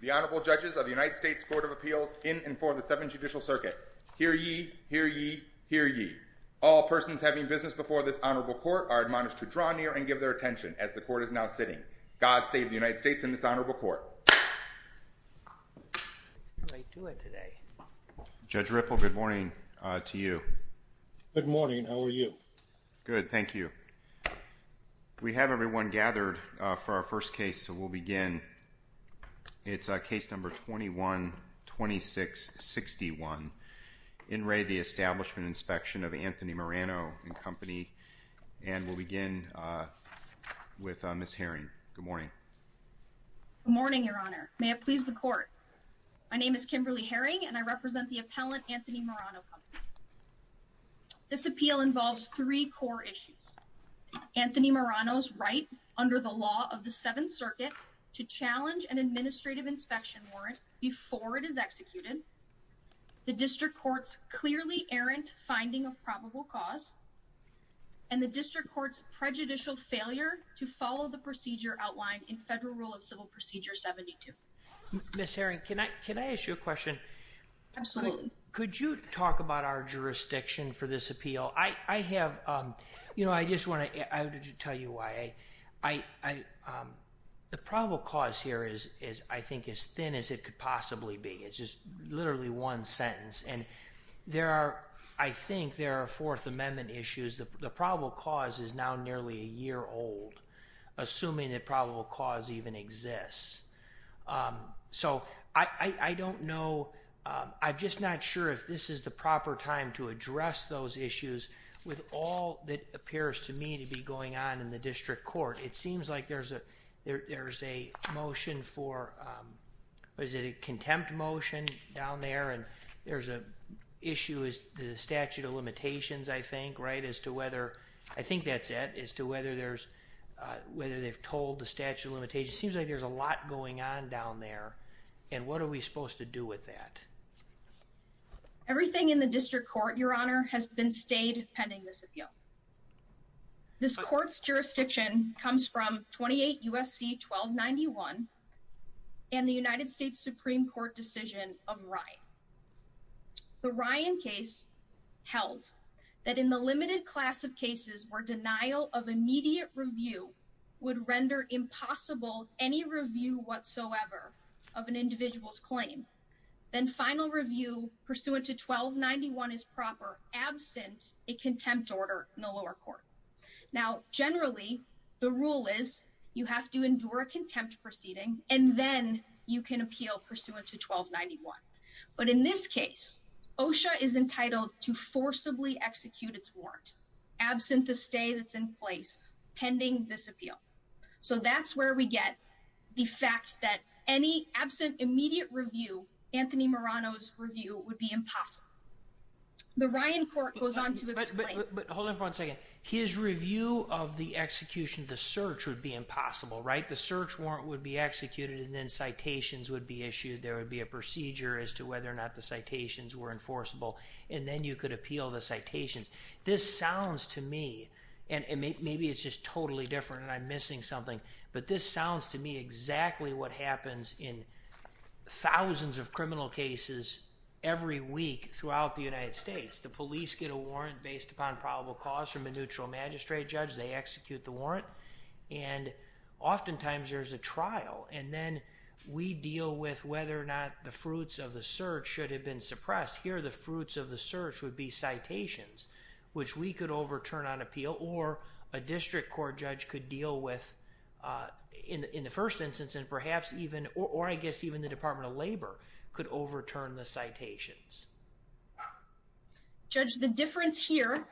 The Honorable Judges of the United States Court of Appeals in and for the Seventh Judicial Circuit. Hear ye, hear ye, hear ye. All persons having business before this Honorable Court are admonished to draw near and give their attention as the Court is now sitting. God save the United States and this Honorable Court. Judge Ripple, good morning to you. Good morning. How are you? Good. Thank you. We have everyone gathered for our first case, so we'll begin. It's case number 212661, In Re, the Establishment and Inspection of Anthony Marano and Company, and we'll begin with Ms. Herring. Good morning. Good morning, Your Honor. May it please the Court. My name is Kimberly Herring, and I represent the appellant, Anthony Marano Company. This appeal involves three core issues. Anthony Marano's right under the law of the Seventh Circuit to challenge an administrative inspection warrant before it is executed, the District Court's clearly errant finding of probable cause, and the District Court's prejudicial failure to follow the procedure outlined in Federal Rule of Civil Procedure 72. Ms. Herring, can I ask you a question? Absolutely. Could you talk about our jurisdiction for this appeal? I have, you know, I just want to tell you why. The probable cause here is, I think, as thin as it could possibly be. It's just literally one sentence, and there are, I think there are Fourth Amendment issues. The probable cause is now nearly a year old, assuming that probable cause even exists. So, I don't know, I'm just not sure if this is the proper time to address those issues with all that appears to me to be going on in the District Court. It seems like there's a motion for, what is it, a contempt motion down there, and there's an issue as to the statute of limitations, I think, right, as to whether, I think that's it, as to whether there's, whether they've told the statute of limitations. It just seems like there's a lot going on down there, and what are we supposed to do with that? Everything in the District Court, Your Honor, has been stayed pending this appeal. This court's jurisdiction comes from 28 U.S.C. 1291 and the United States Supreme Court decision of Ryan. The Ryan case held that in the limited class of cases where denial of immediate review would render impossible any review whatsoever of an individual's claim, then final review pursuant to 1291 is proper, absent a contempt order in the lower court. Now, generally, the rule is you have to endure a contempt proceeding, and then you can appeal pursuant to 1291. But in this case, OSHA is entitled to forcibly execute its warrant, absent the stay that's in place, pending this appeal. So that's where we get the fact that any absent immediate review, Anthony Marano's review, would be impossible. The Ryan court goes on to explain. But hold on for one second. His review of the execution, the search, would be impossible, right? The search warrant would be executed, and then citations would be issued. There would be a procedure as to whether or not the citations were enforceable, and then you could appeal the citations. This sounds to me, and maybe it's just totally different, and I'm missing something, but this sounds to me exactly what happens in thousands of criminal cases every week throughout the United States. The police get a warrant based upon probable cause from a neutral magistrate judge. They execute the warrant, and oftentimes there's a trial. And then we deal with whether or not the fruits of the search should have been suppressed. Here, the fruits of the search would be citations, which we could overturn on appeal, or a district court judge could deal with in the first instance, and perhaps even, or I guess even the Department of Labor could overturn the citations. Judge, the difference here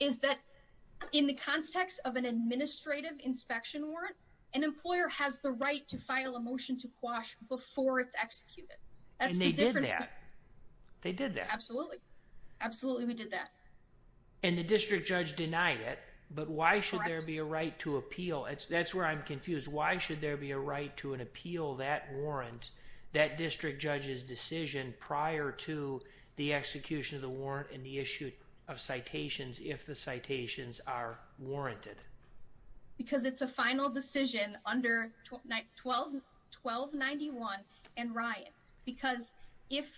is that in the context of an administrative inspection warrant, an employer has the right to file a motion to quash before it's executed. And they did that. They did that. Absolutely. Absolutely, we did that. And the district judge denied it, but why should there be a right to appeal? That's where I'm confused. Why should there be a right to an appeal that warrant, that district judge's decision prior to the execution of the warrant and the issue of citations if the citations are warranted? Because it's a final decision under 1291 and Ryan, because if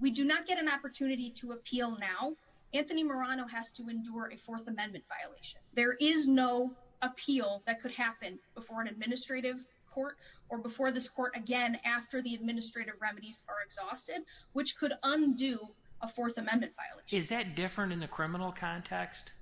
we do not get an opportunity to appeal now, Anthony Marano has to endure a Fourth Amendment violation. There is no appeal that could happen before an administrative court or before this court again after the administrative remedies are exhausted, which could undo a Fourth Amendment violation. Is that different in the criminal context?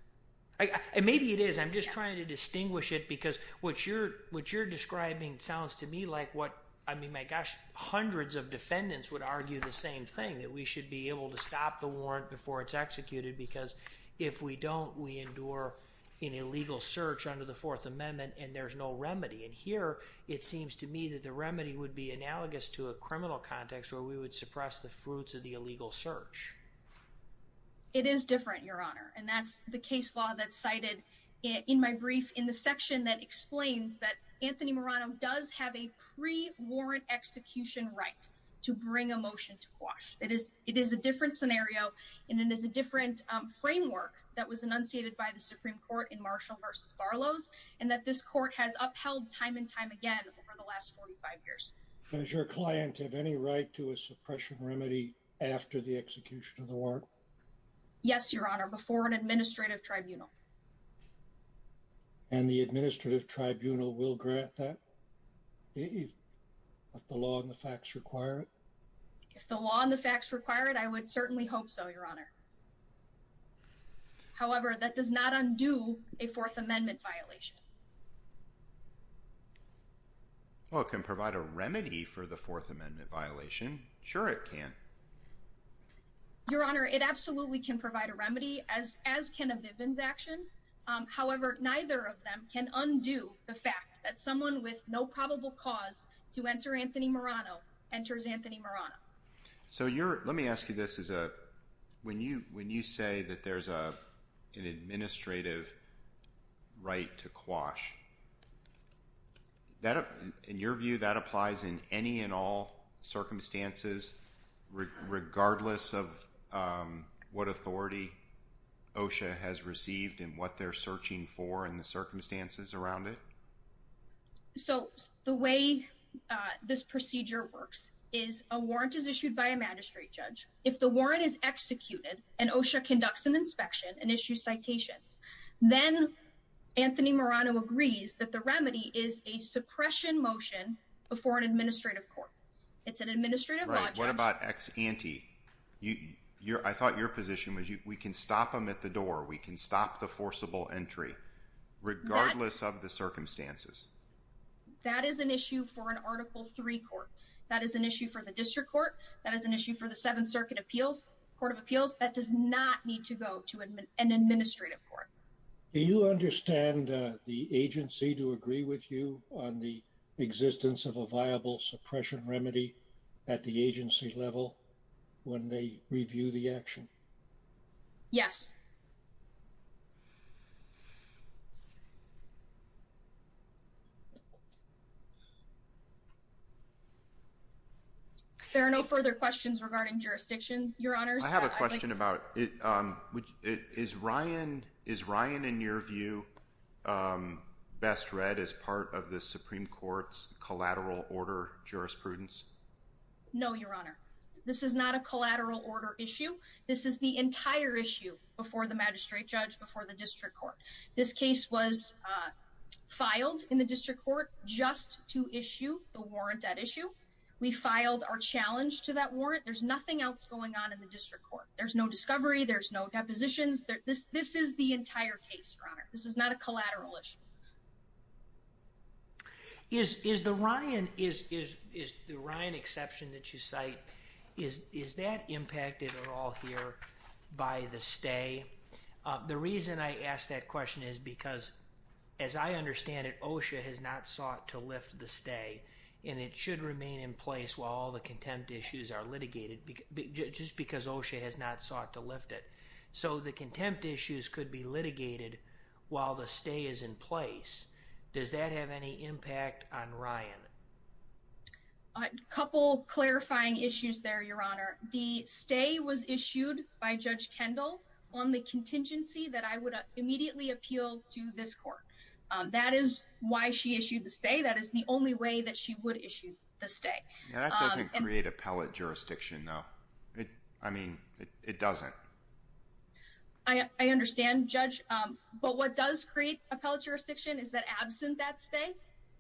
Maybe it is. I'm just trying to distinguish it because what you're describing sounds to me like what, I mean, my gosh, hundreds of defendants would argue the same thing, that we should be able to stop the warrant before it's executed because if we don't, we endure an illegal search under the Fourth Amendment and there's no remedy. And here, it seems to me that the remedy would be analogous to a criminal context where we would suppress the fruits of the illegal search. It is different, Your Honor, and that's the case law that's cited in my brief in the section that explains that Anthony Marano does have a pre-warrant execution right to bring a motion to quash. It is a different scenario and it is a different framework that was enunciated by the Supreme Court in Marshall v. Barlow's and that this court has upheld time and time again over the last 45 years. Does your client have any right to a suppression remedy after the execution of the warrant? Yes, Your Honor, before an administrative tribunal. And the administrative tribunal will grant that if the law and the facts require it? If the law and the facts require it, I would certainly hope so, Your Honor. However, that does not undo a Fourth Amendment violation. Well, it can provide a remedy for the Fourth Amendment violation. Sure, it can. Your Honor, it absolutely can provide a remedy, as can a Vivian's action. However, neither of them can undo the fact that someone with no probable cause to enter Anthony Marano enters Anthony Marano. So, let me ask you this. When you say that there's an administrative right to quash, in your view, that applies in any and all circumstances, regardless of what authority OSHA has received and what they're searching for and the circumstances around it? So, the way this procedure works is a warrant is issued by a magistrate judge. If the warrant is executed and OSHA conducts an inspection and issues citations, then Anthony Marano agrees that the remedy is a suppression motion before an administrative court. It's an administrative law judge. Right. What about ex ante? I thought your position was we can stop him at the door. We can stop the forcible entry, regardless of the circumstances. That is an issue for an Article III court. That is an issue for the district court. That is an issue for the Seventh Circuit Court of Appeals. That does not need to go to an administrative court. Do you understand the agency to agree with you on the existence of a viable suppression remedy at the agency level when they review the action? Yes. There are no further questions regarding jurisdiction, Your Honors. I have a question about is Ryan, in your view, best read as part of the Supreme Court's collateral order jurisprudence? No, Your Honor. This is not a collateral order issue. before the district court. This case was filed in the district court just to issue the warrant at issue. We filed our challenge to that warrant. There's nothing else going on in the district court. There's no discovery. There's no depositions. This is the entire case, Your Honor. This is not a collateral issue. Is the Ryan exception that you cite, is that impacted at all here by the stay? The reason I ask that question is because, as I understand it, OSHA has not sought to lift the stay and it should remain in place while all the contempt issues are litigated just because OSHA has not sought to lift it. So the contempt issues could be litigated while the stay is in place. Does that have any impact on Ryan? A couple clarifying issues there, Your Honor. The stay was issued by Judge Kendall on the contingency that I would immediately appeal to this court. That is why she issued the stay. That is the only way that she would issue the stay. That doesn't create appellate jurisdiction, though. I mean, it doesn't. I understand, Judge. But what does create appellate jurisdiction is that absent that stay,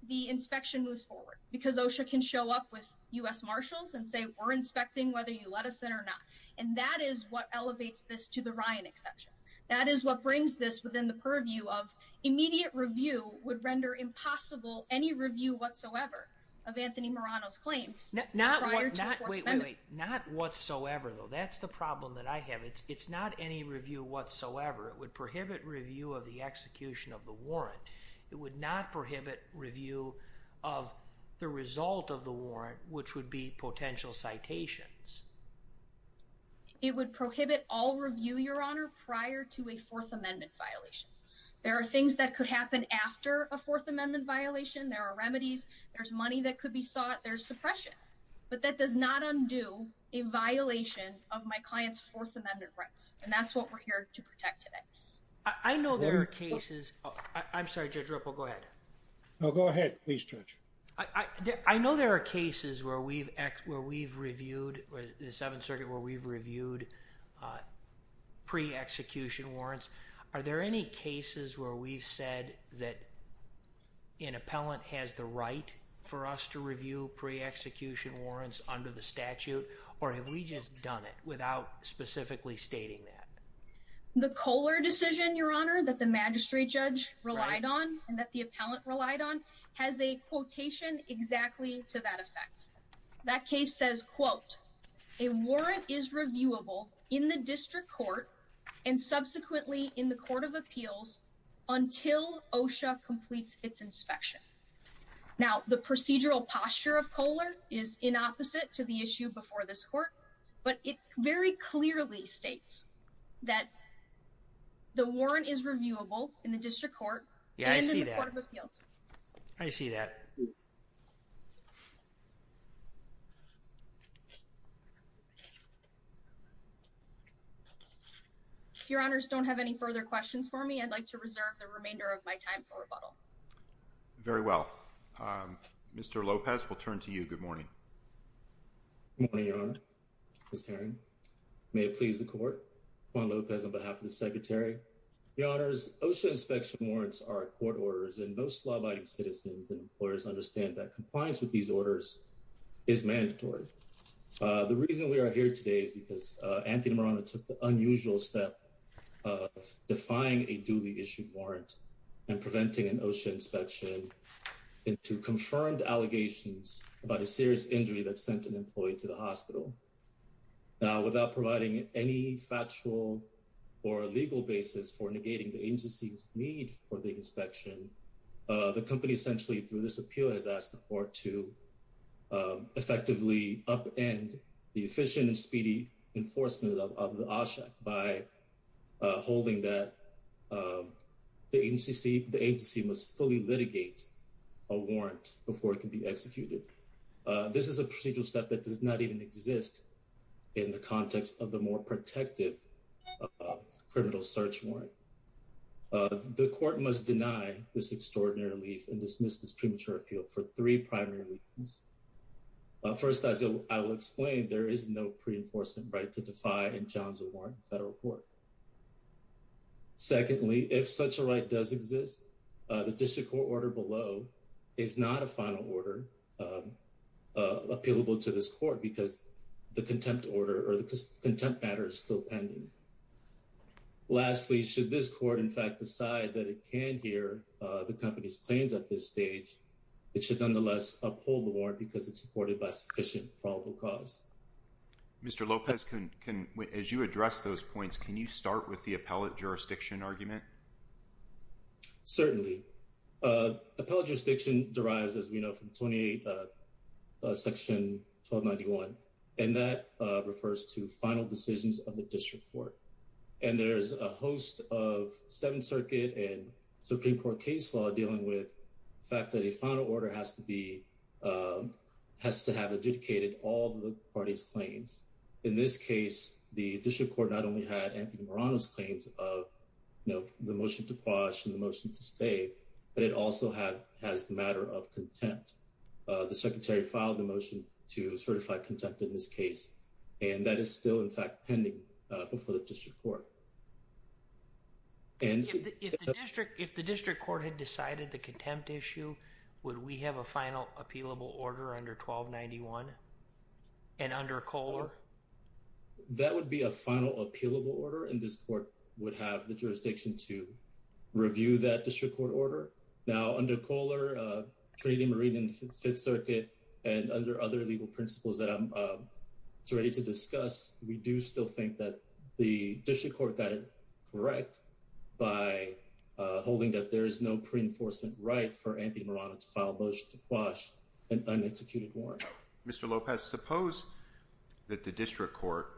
the inspection moves forward because OSHA can show up with U.S. Marshals and say, we're inspecting whether you let us in or not. And that is what elevates this to the Ryan exception. That is what brings this within the purview of immediate review would render impossible any review whatsoever of Anthony Marano's claims. Not whatsoever, though. That's the problem that I have. It's not any review whatsoever. It would prohibit review of the execution of the warrant. It would not prohibit review of the result of the warrant, which would be potential citations. It would prohibit all review, Your Honor, prior to a Fourth Amendment violation. There are things that could happen after a Fourth Amendment violation. There are remedies. There's money that could be sought. There's suppression. But that does not undo a violation of my client's Fourth Amendment rights. And that's what we're here to protect today. I know there are cases. I'm sorry, Judge Ripple, go ahead. No, go ahead, please, Judge. I know there are cases where we've where we've reviewed the Seventh Circuit, where we've reviewed pre-execution warrants. Are there any cases where we've said that an appellant has the right for us to review pre-execution warrants under the statute? Or have we just done it without specifically stating that? The Kohler decision, Your Honor, that the magistrate judge relied on and that the appellant relied on has a quotation exactly to that effect. That case says, quote, a warrant is reviewable in the district court and subsequently in the court of appeals until OSHA completes its inspection. Now, the procedural posture of Kohler is in opposite to the issue before this court. But it very clearly states that the warrant is reviewable in the district court. Yeah, I see that. I see that. If Your Honor's don't have any further questions for me, I'd like to reserve the remainder of my time for rebuttal. Very well, Mr. Lopez, we'll turn to you. Good morning. Good morning, Your Honor. Ms. Herring, may it please the court, Juan Lopez on behalf of the Secretary. Your Honors, OSHA inspection warrants are court orders, and most law-abiding citizens and employers understand that compliance with these orders is a matter of the law. It's mandatory. The reason we are here today is because Anthony Morano took the unusual step of defying a duly issued warrant and preventing an OSHA inspection into confirmed allegations about a serious injury that sent an employee to the hospital. Now, without providing any factual or legal basis for negating the agency's need for the effectively upend the efficient and speedy enforcement of the OSHA by holding that the agency must fully litigate a warrant before it can be executed. This is a procedural step that does not even exist in the context of the more protective criminal search warrant. The court must deny this extraordinary relief and dismiss this premature appeal for three primary reasons. First, as I will explain, there is no pre-enforcement right to defy and challenge a warrant in federal court. Secondly, if such a right does exist, the district court order below is not a final order appealable to this court because the contempt order or the contempt matter is still pending. Lastly, should this court, in fact, decide that it can hear the company's claims at this stage, it should nonetheless uphold the warrant because it's supported by sufficient probable cause. Mr. Lopez, as you address those points, can you start with the appellate jurisdiction argument? Certainly. Appellate jurisdiction derives, as we know, from 28 Section 1291, and that refers to final decisions of the district court. And there's a host of Seventh Circuit and Supreme Court case law dealing with the fact that a final order has to have adjudicated all the parties' claims. In this case, the district court not only had Anthony Morano's claims of the motion to quash and the motion to stay, but it also has the matter of contempt. The secretary filed a motion to certify contempt in this case, and that is still, in fact, pending before the district court. And if the district court had decided the contempt issue, would we have a final appealable order under 1291 and under Kohler? That would be a final appealable order, and this court would have the jurisdiction to review that district court order. Now, under Kohler, Trading Marine and Fifth Circuit, we do still think that the district court got it correct by holding that there is no pre-enforcement right for Anthony Morano to file a motion to quash an un-executed warrant. Mr. Lopez, suppose that the district court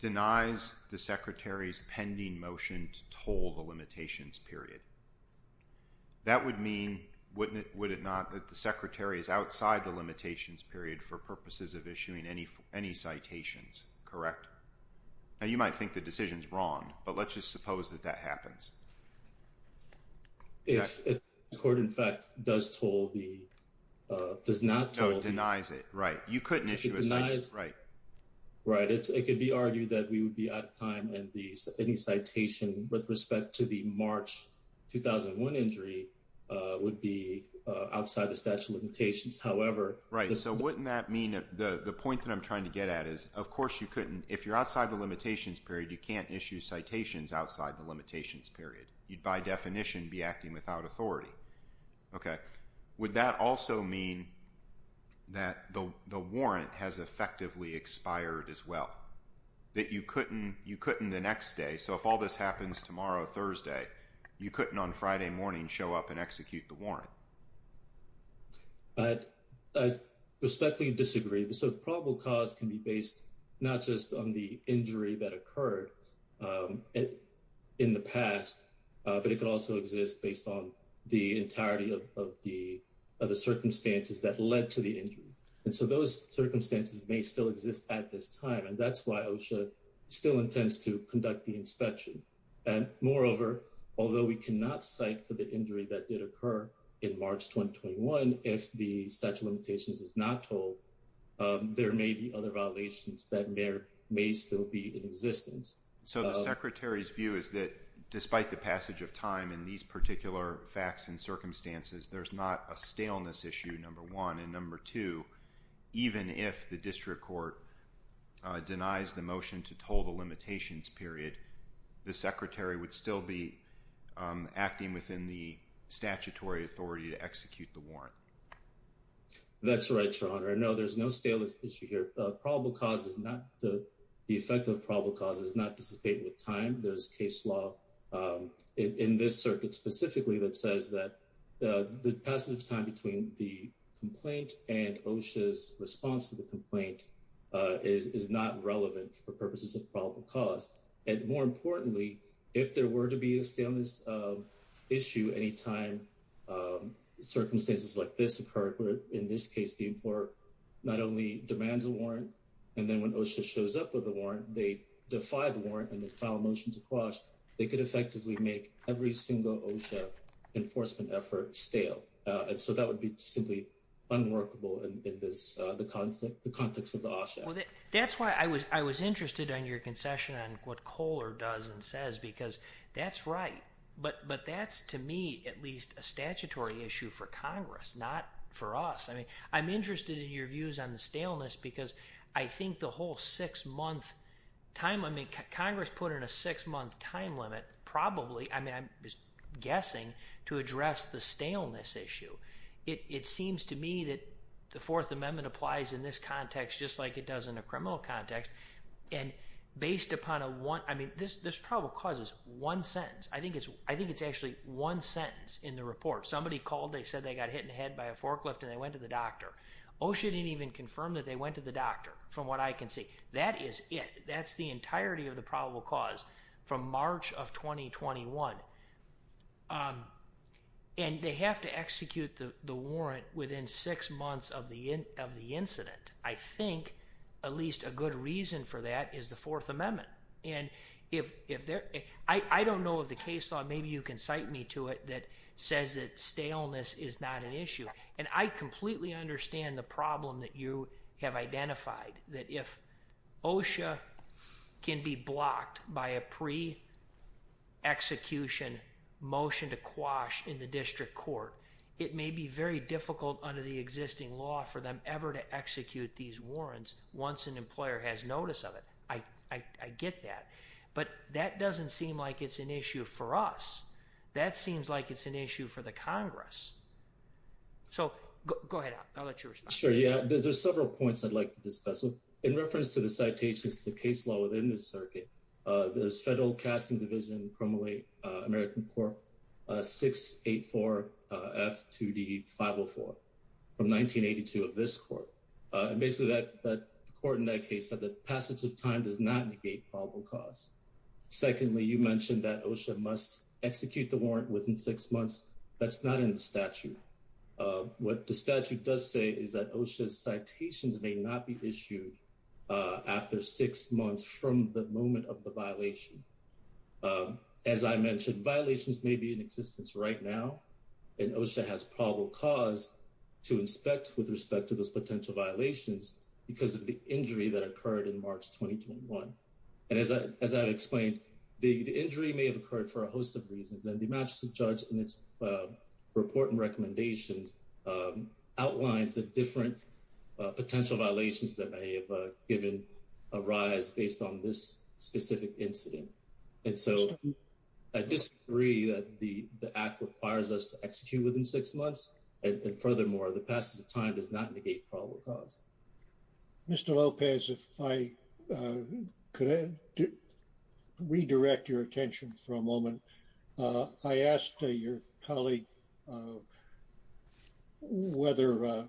denies the secretary's pending motion to toll the limitations period. That would mean, wouldn't it, would it not, that the secretary is outside the statute of limitations? Now, you might think the decision's wrong, but let's just suppose that that happens. If the court, in fact, does toll the, does not toll. No, denies it, right. You couldn't issue a citation, right. Right, it could be argued that we would be out of time and any citation with respect to the March 2001 injury would be outside the statute of limitations. However. Right, so wouldn't that mean, the point that I'm trying to get at is, of course you couldn't, if you're outside the limitations period, you can't issue citations outside the limitations period. You'd, by definition, be acting without authority. Okay, would that also mean that the warrant has effectively expired as well? That you couldn't, you couldn't the next day, so if all this happens tomorrow, Thursday, you couldn't on Friday morning show up and execute the warrant? I, I respectfully disagree. The sort of probable cause can be based not just on the injury that occurred in the past, but it could also exist based on the entirety of the circumstances that led to the injury. And so those circumstances may still exist at this time, and that's why OSHA still intends to conduct the inspection. And moreover, although we cannot cite for the injury that did occur in March 2021, if the statute of limitations is not told, there may be other violations that may still be in existence. So the Secretary's view is that despite the passage of time in these particular facts and circumstances, there's not a staleness issue, number one, and number two, even if the District Court denies the motion to toll the limitations period, the Secretary would still be acting within the statutory authority to execute the warrant. That's right, Your Honor. No, there's no staleness issue here. Probable cause is not, the effect of probable cause is not dissipated with time. There's case law in this circuit specifically that says that the passage of time between the complaint and OSHA's response to the complaint is not relevant for purposes of probable cause. And more importantly, if there were to be a staleness issue any time circumstances like this occurred, where in this case, the employer not only demands a warrant, and then when OSHA shows up with a warrant, they defy the warrant and then file a motion to quash, they could effectively make every single OSHA enforcement effort stale. And so that would be simply unworkable in the context of the OSHA. Well, that's why I was interested in your concession on what Kohler does and says, because that's right. But that's, to me, at least a statutory issue for Congress, not for us. I mean, I'm interested in your views on the staleness because I think the whole six-month time limit, Congress put in a six-month time limit, probably, I mean, I'm guessing, to It seems to me that the Fourth Amendment applies in this context, just like it does in a criminal context. And based upon a one, I mean, this probable cause is one sentence. I think it's actually one sentence in the report. Somebody called, they said they got hit in the head by a forklift and they went to the doctor. OSHA didn't even confirm that they went to the doctor, from what I can see. That is it. That's the entirety of the probable cause from March of 2021. And they have to execute the warrant within six months of the incident. I think at least a good reason for that is the Fourth Amendment. And I don't know of the case law, maybe you can cite me to it, that says that staleness is not an issue. And I completely understand the problem that you have identified, that if OSHA can be blocked by a pre-execution motion to quash in the district court, it may be very difficult under the existing law for them ever to execute these warrants once an employer has notice of it. I get that. But that doesn't seem like it's an issue for us. That seems like it's an issue for the Congress. So go ahead. I'll let you respond. Sure. Yeah, there's several points I'd like to discuss. In reference to the citations, the case law within the circuit, there's Federal Casting Division Primal 8, American Court 684F2D504 from 1982 of this court. Basically, the court in that case said that passage of time does not negate probable cause. Secondly, you mentioned that OSHA must execute the warrant within six months. That's not in the statute. What the statute does say is that OSHA's citations may not be issued after six months from the moment of the violation. As I mentioned, violations may be in existence right now, and OSHA has probable cause to inspect with respect to those potential violations because of the injury that occurred in March 2021. And as I explained, the injury may have occurred for a host of reasons. And the magistrate judge in its report and recommendations outlines the different potential violations that may have given a rise based on this specific incident. And so I disagree that the act requires us to execute within six months. And furthermore, the passage of time does not negate probable cause. Mr. Lopez, if I could redirect your attention for a moment. I asked your colleague whether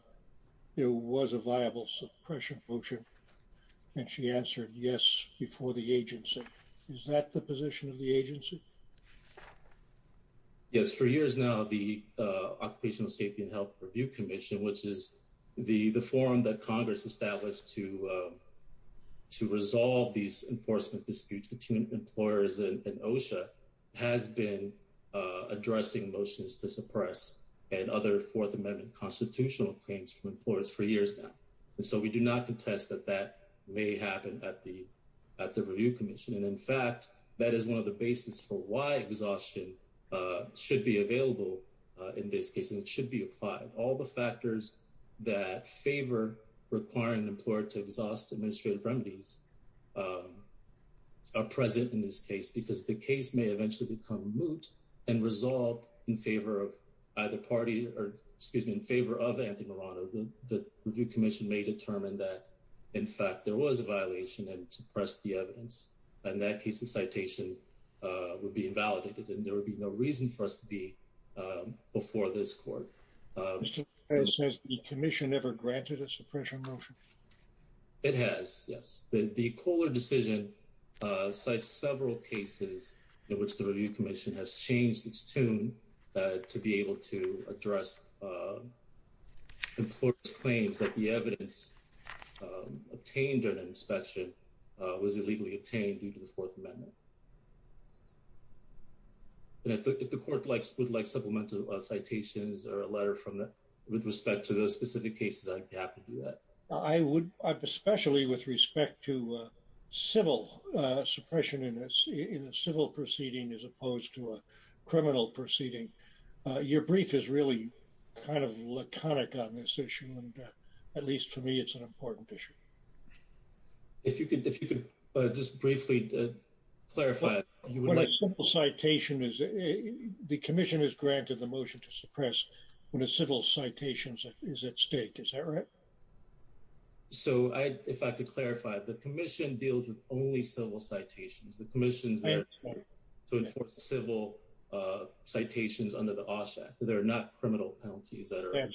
there was a viable suppression motion, and she answered yes before the agency. Is that the position of the agency? Yes. For years now, the Occupational Safety and Health Review Commission, which is the forum that Congress established to resolve these enforcement disputes between employers and addressing motions to suppress and other Fourth Amendment constitutional claims from employers for years now. And so we do not contest that that may happen at the review commission. And in fact, that is one of the basis for why exhaustion should be available in this case, and it should be applied. All the factors that favor requiring an employer to exhaust administrative remedies are present in this case because the case may eventually become moot and resolved in favor of either party or excuse me, in favor of Anthony Marano. The review commission may determine that, in fact, there was a violation and suppress the evidence. And that case, the citation would be invalidated and there would be no reason for us to be before this court. Mr. Lopez, has the commission ever granted a suppression motion? It has, yes. The Kohler decision cites several cases in which the review commission has changed its tune to be able to address employers' claims that the evidence obtained during an inspection was illegally obtained due to the Fourth Amendment. And if the court would like supplemental citations or a letter with respect to those specific cases, I'd be happy to do that. I would, especially with respect to civil suppression in a civil proceeding as opposed to a criminal proceeding. Your brief is really kind of laconic on this issue. And at least for me, it's an important issue. If you could just briefly clarify. The commission has granted the motion to suppress when a civil citation is at stake. Is that right? So, if I could clarify. The commission deals with only civil citations. The commission is there to enforce civil citations under the OSHA Act. There are not criminal penalties that are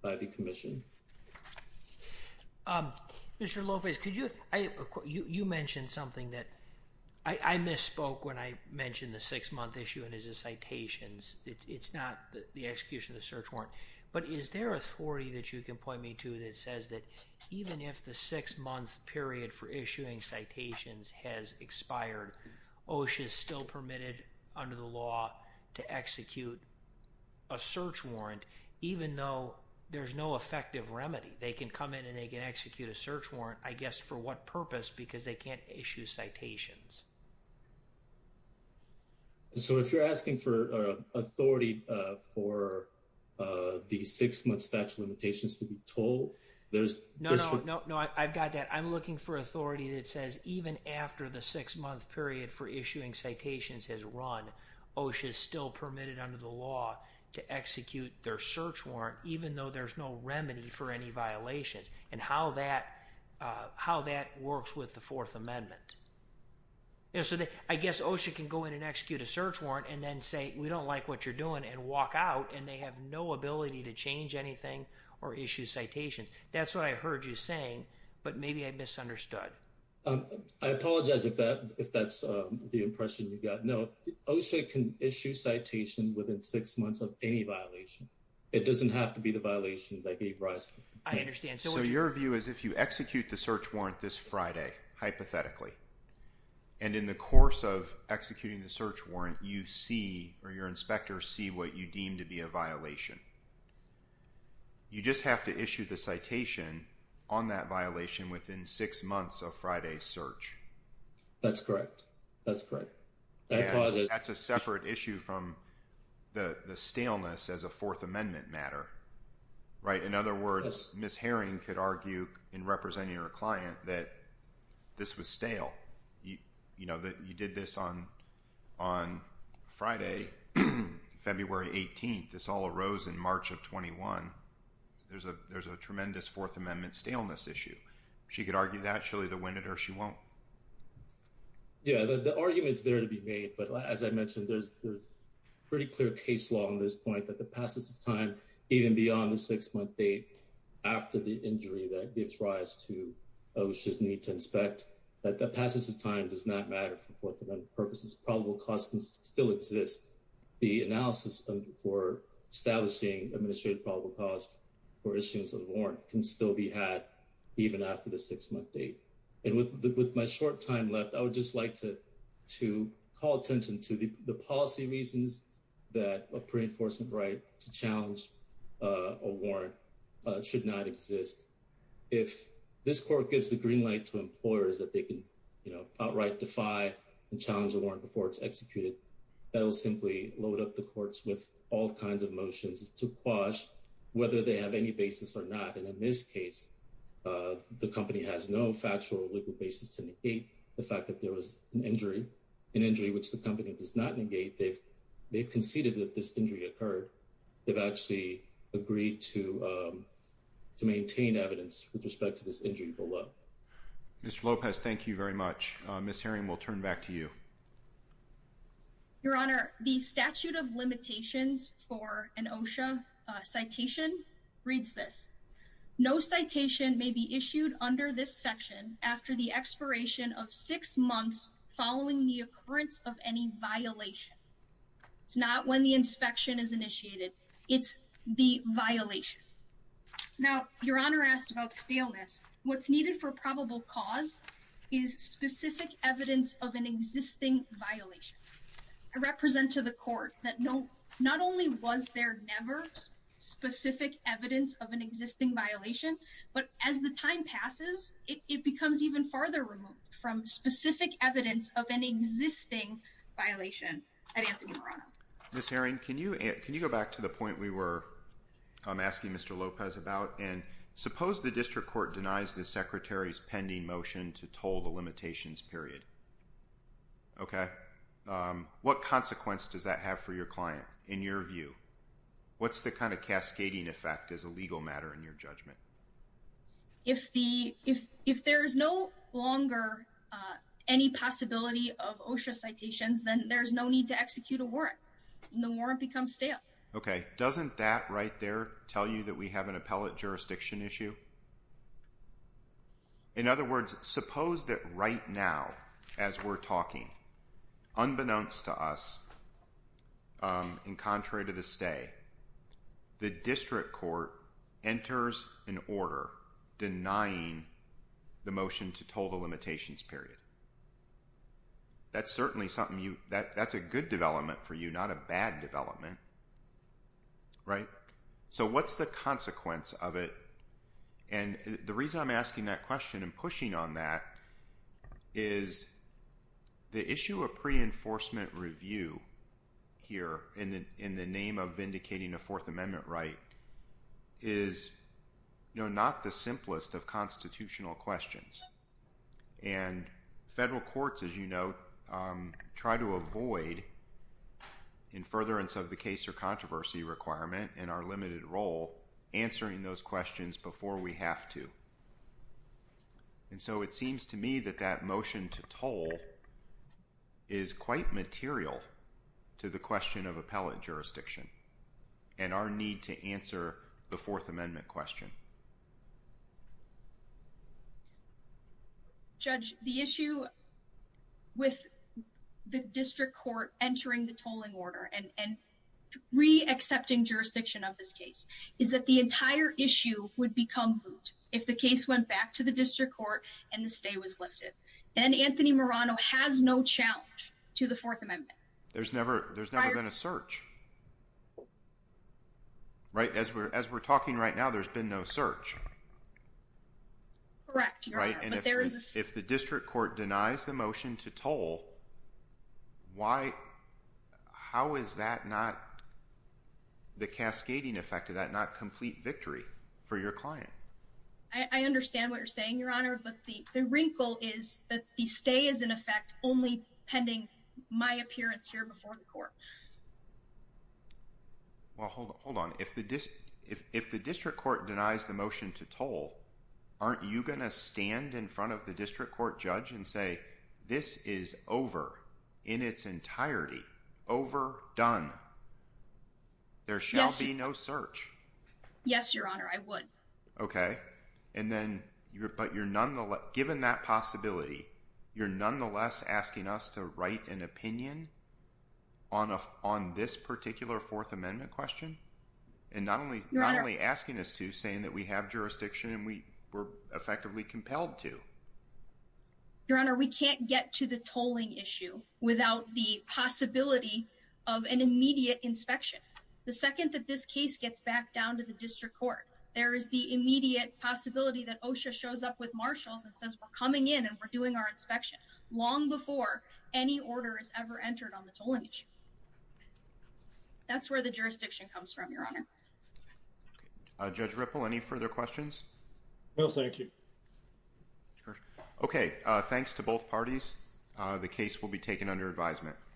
by the commission. Mr. Lopez, could you, you mentioned something that I misspoke when I mentioned the six-month issue and his citations. It's not the execution of the search warrant. But is there authority that you can point me to that says that even if the six-month period for issuing citations has expired, OSHA is still permitted under the law to execute a search warrant, even though there's no effective remedy. They can come in and they can execute a search warrant, I guess, for what purpose? Because they can't issue citations. So, if you're asking for authority for the six-month statute of limitations to be told, there's... No, no, no, no, I've got that. I'm looking for authority that says even after the six-month period for issuing citations has run, OSHA is still permitted under the law to execute their search warrant, even though there's no remedy for any violations. And how that works with the Fourth Amendment. Yeah, so I guess OSHA can go in and execute a search warrant and then say, we don't like what you're doing and walk out and they have no ability to change anything or issue citations. That's what I heard you saying, but maybe I misunderstood. I apologize if that's the impression you got. No, OSHA can issue citations within six months of any violation. It doesn't have to be the violation that gave rise... I understand. So, your view is if you execute the search warrant this Friday, hypothetically, and in the course of executing the search warrant, you see or your inspector see what you deem to be a violation, you just have to issue the citation on that violation within six months of Friday's search. That's correct. That's correct. That's a separate issue from the staleness as a Fourth Amendment matter, right? In other words, Ms. Herring could argue in representing her client that this was stale. You know, that you did this on Friday, February 18th. This all arose in March of 21. There's a tremendous Fourth Amendment staleness issue. She could argue that. She'll either win it or she won't. Yeah, the argument's there to be made, but as I mentioned, there's a pretty clear case law on this point that the passage of time even beyond the six-month date after the injury that gives rise to OSHA's need to inspect, that the passage of time does not matter for Fourth Amendment purposes. Probable cause can still exist. The analysis for establishing administrative probable cause for issuance of a warrant can still be had even after the six-month date. And with my short time left, I would just like to call attention to the policy reasons that a pre-enforcement right to challenge a warrant should not exist. If this court gives the green light to employers that they can outright defy and challenge a warrant before it's executed, that'll simply load up the courts with all kinds of motions to quash whether they have any basis or not. And in this case, the company has no factual or legal basis to negate the fact that there was an injury, an injury which the company does not negate. They've conceded that this injury occurred. They've actually agreed to maintain evidence with respect to this injury below. Mr. Lopez, thank you very much. Ms. Herring, we'll turn back to you. Your Honor, the statute of limitations for an OSHA citation reads this. No citation may be issued under this section after the expiration of six months following the occurrence of any violation. It's not when the inspection is initiated. It's the violation. Now, Your Honor asked about staleness. What's needed for probable cause is specific evidence of an existing violation. I represent to the court that not only was there never specific evidence of an existing violation, but as the time passes, it becomes even farther from specific evidence of an existing violation. Ms. Herring, can you go back to the point we were asking Mr. Lopez about? And suppose the district court denies the Secretary's pending motion to toll the limitations period, okay? What consequence does that have for your client in your view? What's the kind of cascading effect as a legal matter in your judgment? If there is no longer any possibility of OSHA citations, then there's no need to execute a warrant. The warrant becomes stale. Okay. Doesn't that right there tell you that we have an appellate jurisdiction issue? In other words, suppose that right now, as we're talking, unbeknownst to us, in contrary to the stay, the district court enters an order denying the motion to toll the limitations period. That's certainly something that's a good development for you, not a bad development. Right? So what's the consequence of it? And the reason I'm asking that question and pushing on that is the issue of pre-enforcement review here in the name of vindicating a Fourth Amendment right is not the simplest of constitutional questions. And federal courts, as you know, try to avoid, in furtherance of the case or controversy requirement and our limited role, answering those questions before we have to. And so it seems to me that that motion to toll is quite material to the question of appellate jurisdiction and our need to answer the Fourth Amendment question. Judge, the issue with the district court entering the tolling order and re-accepting is that the entire issue would become moot if the case went back to the district court and the stay was lifted. And Anthony Murano has no challenge to the Fourth Amendment. There's never been a search. Right? As we're talking right now, there's been no search. Correct. If the district court denies the motion to toll, why, how is that not, the cascading effect of that not complete victory for your client? I understand what you're saying, Your Honor, but the wrinkle is that the stay is in effect only pending my appearance here before the court. Well, hold on. If the district court denies the motion to toll, aren't you going to stand in front of the district court judge and say, this is over in its entirety, over, done. There shall be no search. Yes, Your Honor, I would. Okay. And then you're, but you're nonetheless, given that possibility, you're nonetheless asking us to write an opinion on this particular Fourth Amendment question. And not only asking us to saying that we have jurisdiction and we were effectively compelled to, Your Honor, we can't get to the tolling issue without the possibility of an immediate inspection. The second that this case gets back down to the district court, there is the immediate possibility that OSHA shows up with marshals and says, we're coming in and we're doing our inspection long before any order is ever entered on the tolling issue. That's where the jurisdiction comes from, Your Honor. Judge Ripple, any further questions? No, thank you. Okay. Thanks to both parties. The case will be taken under advisement.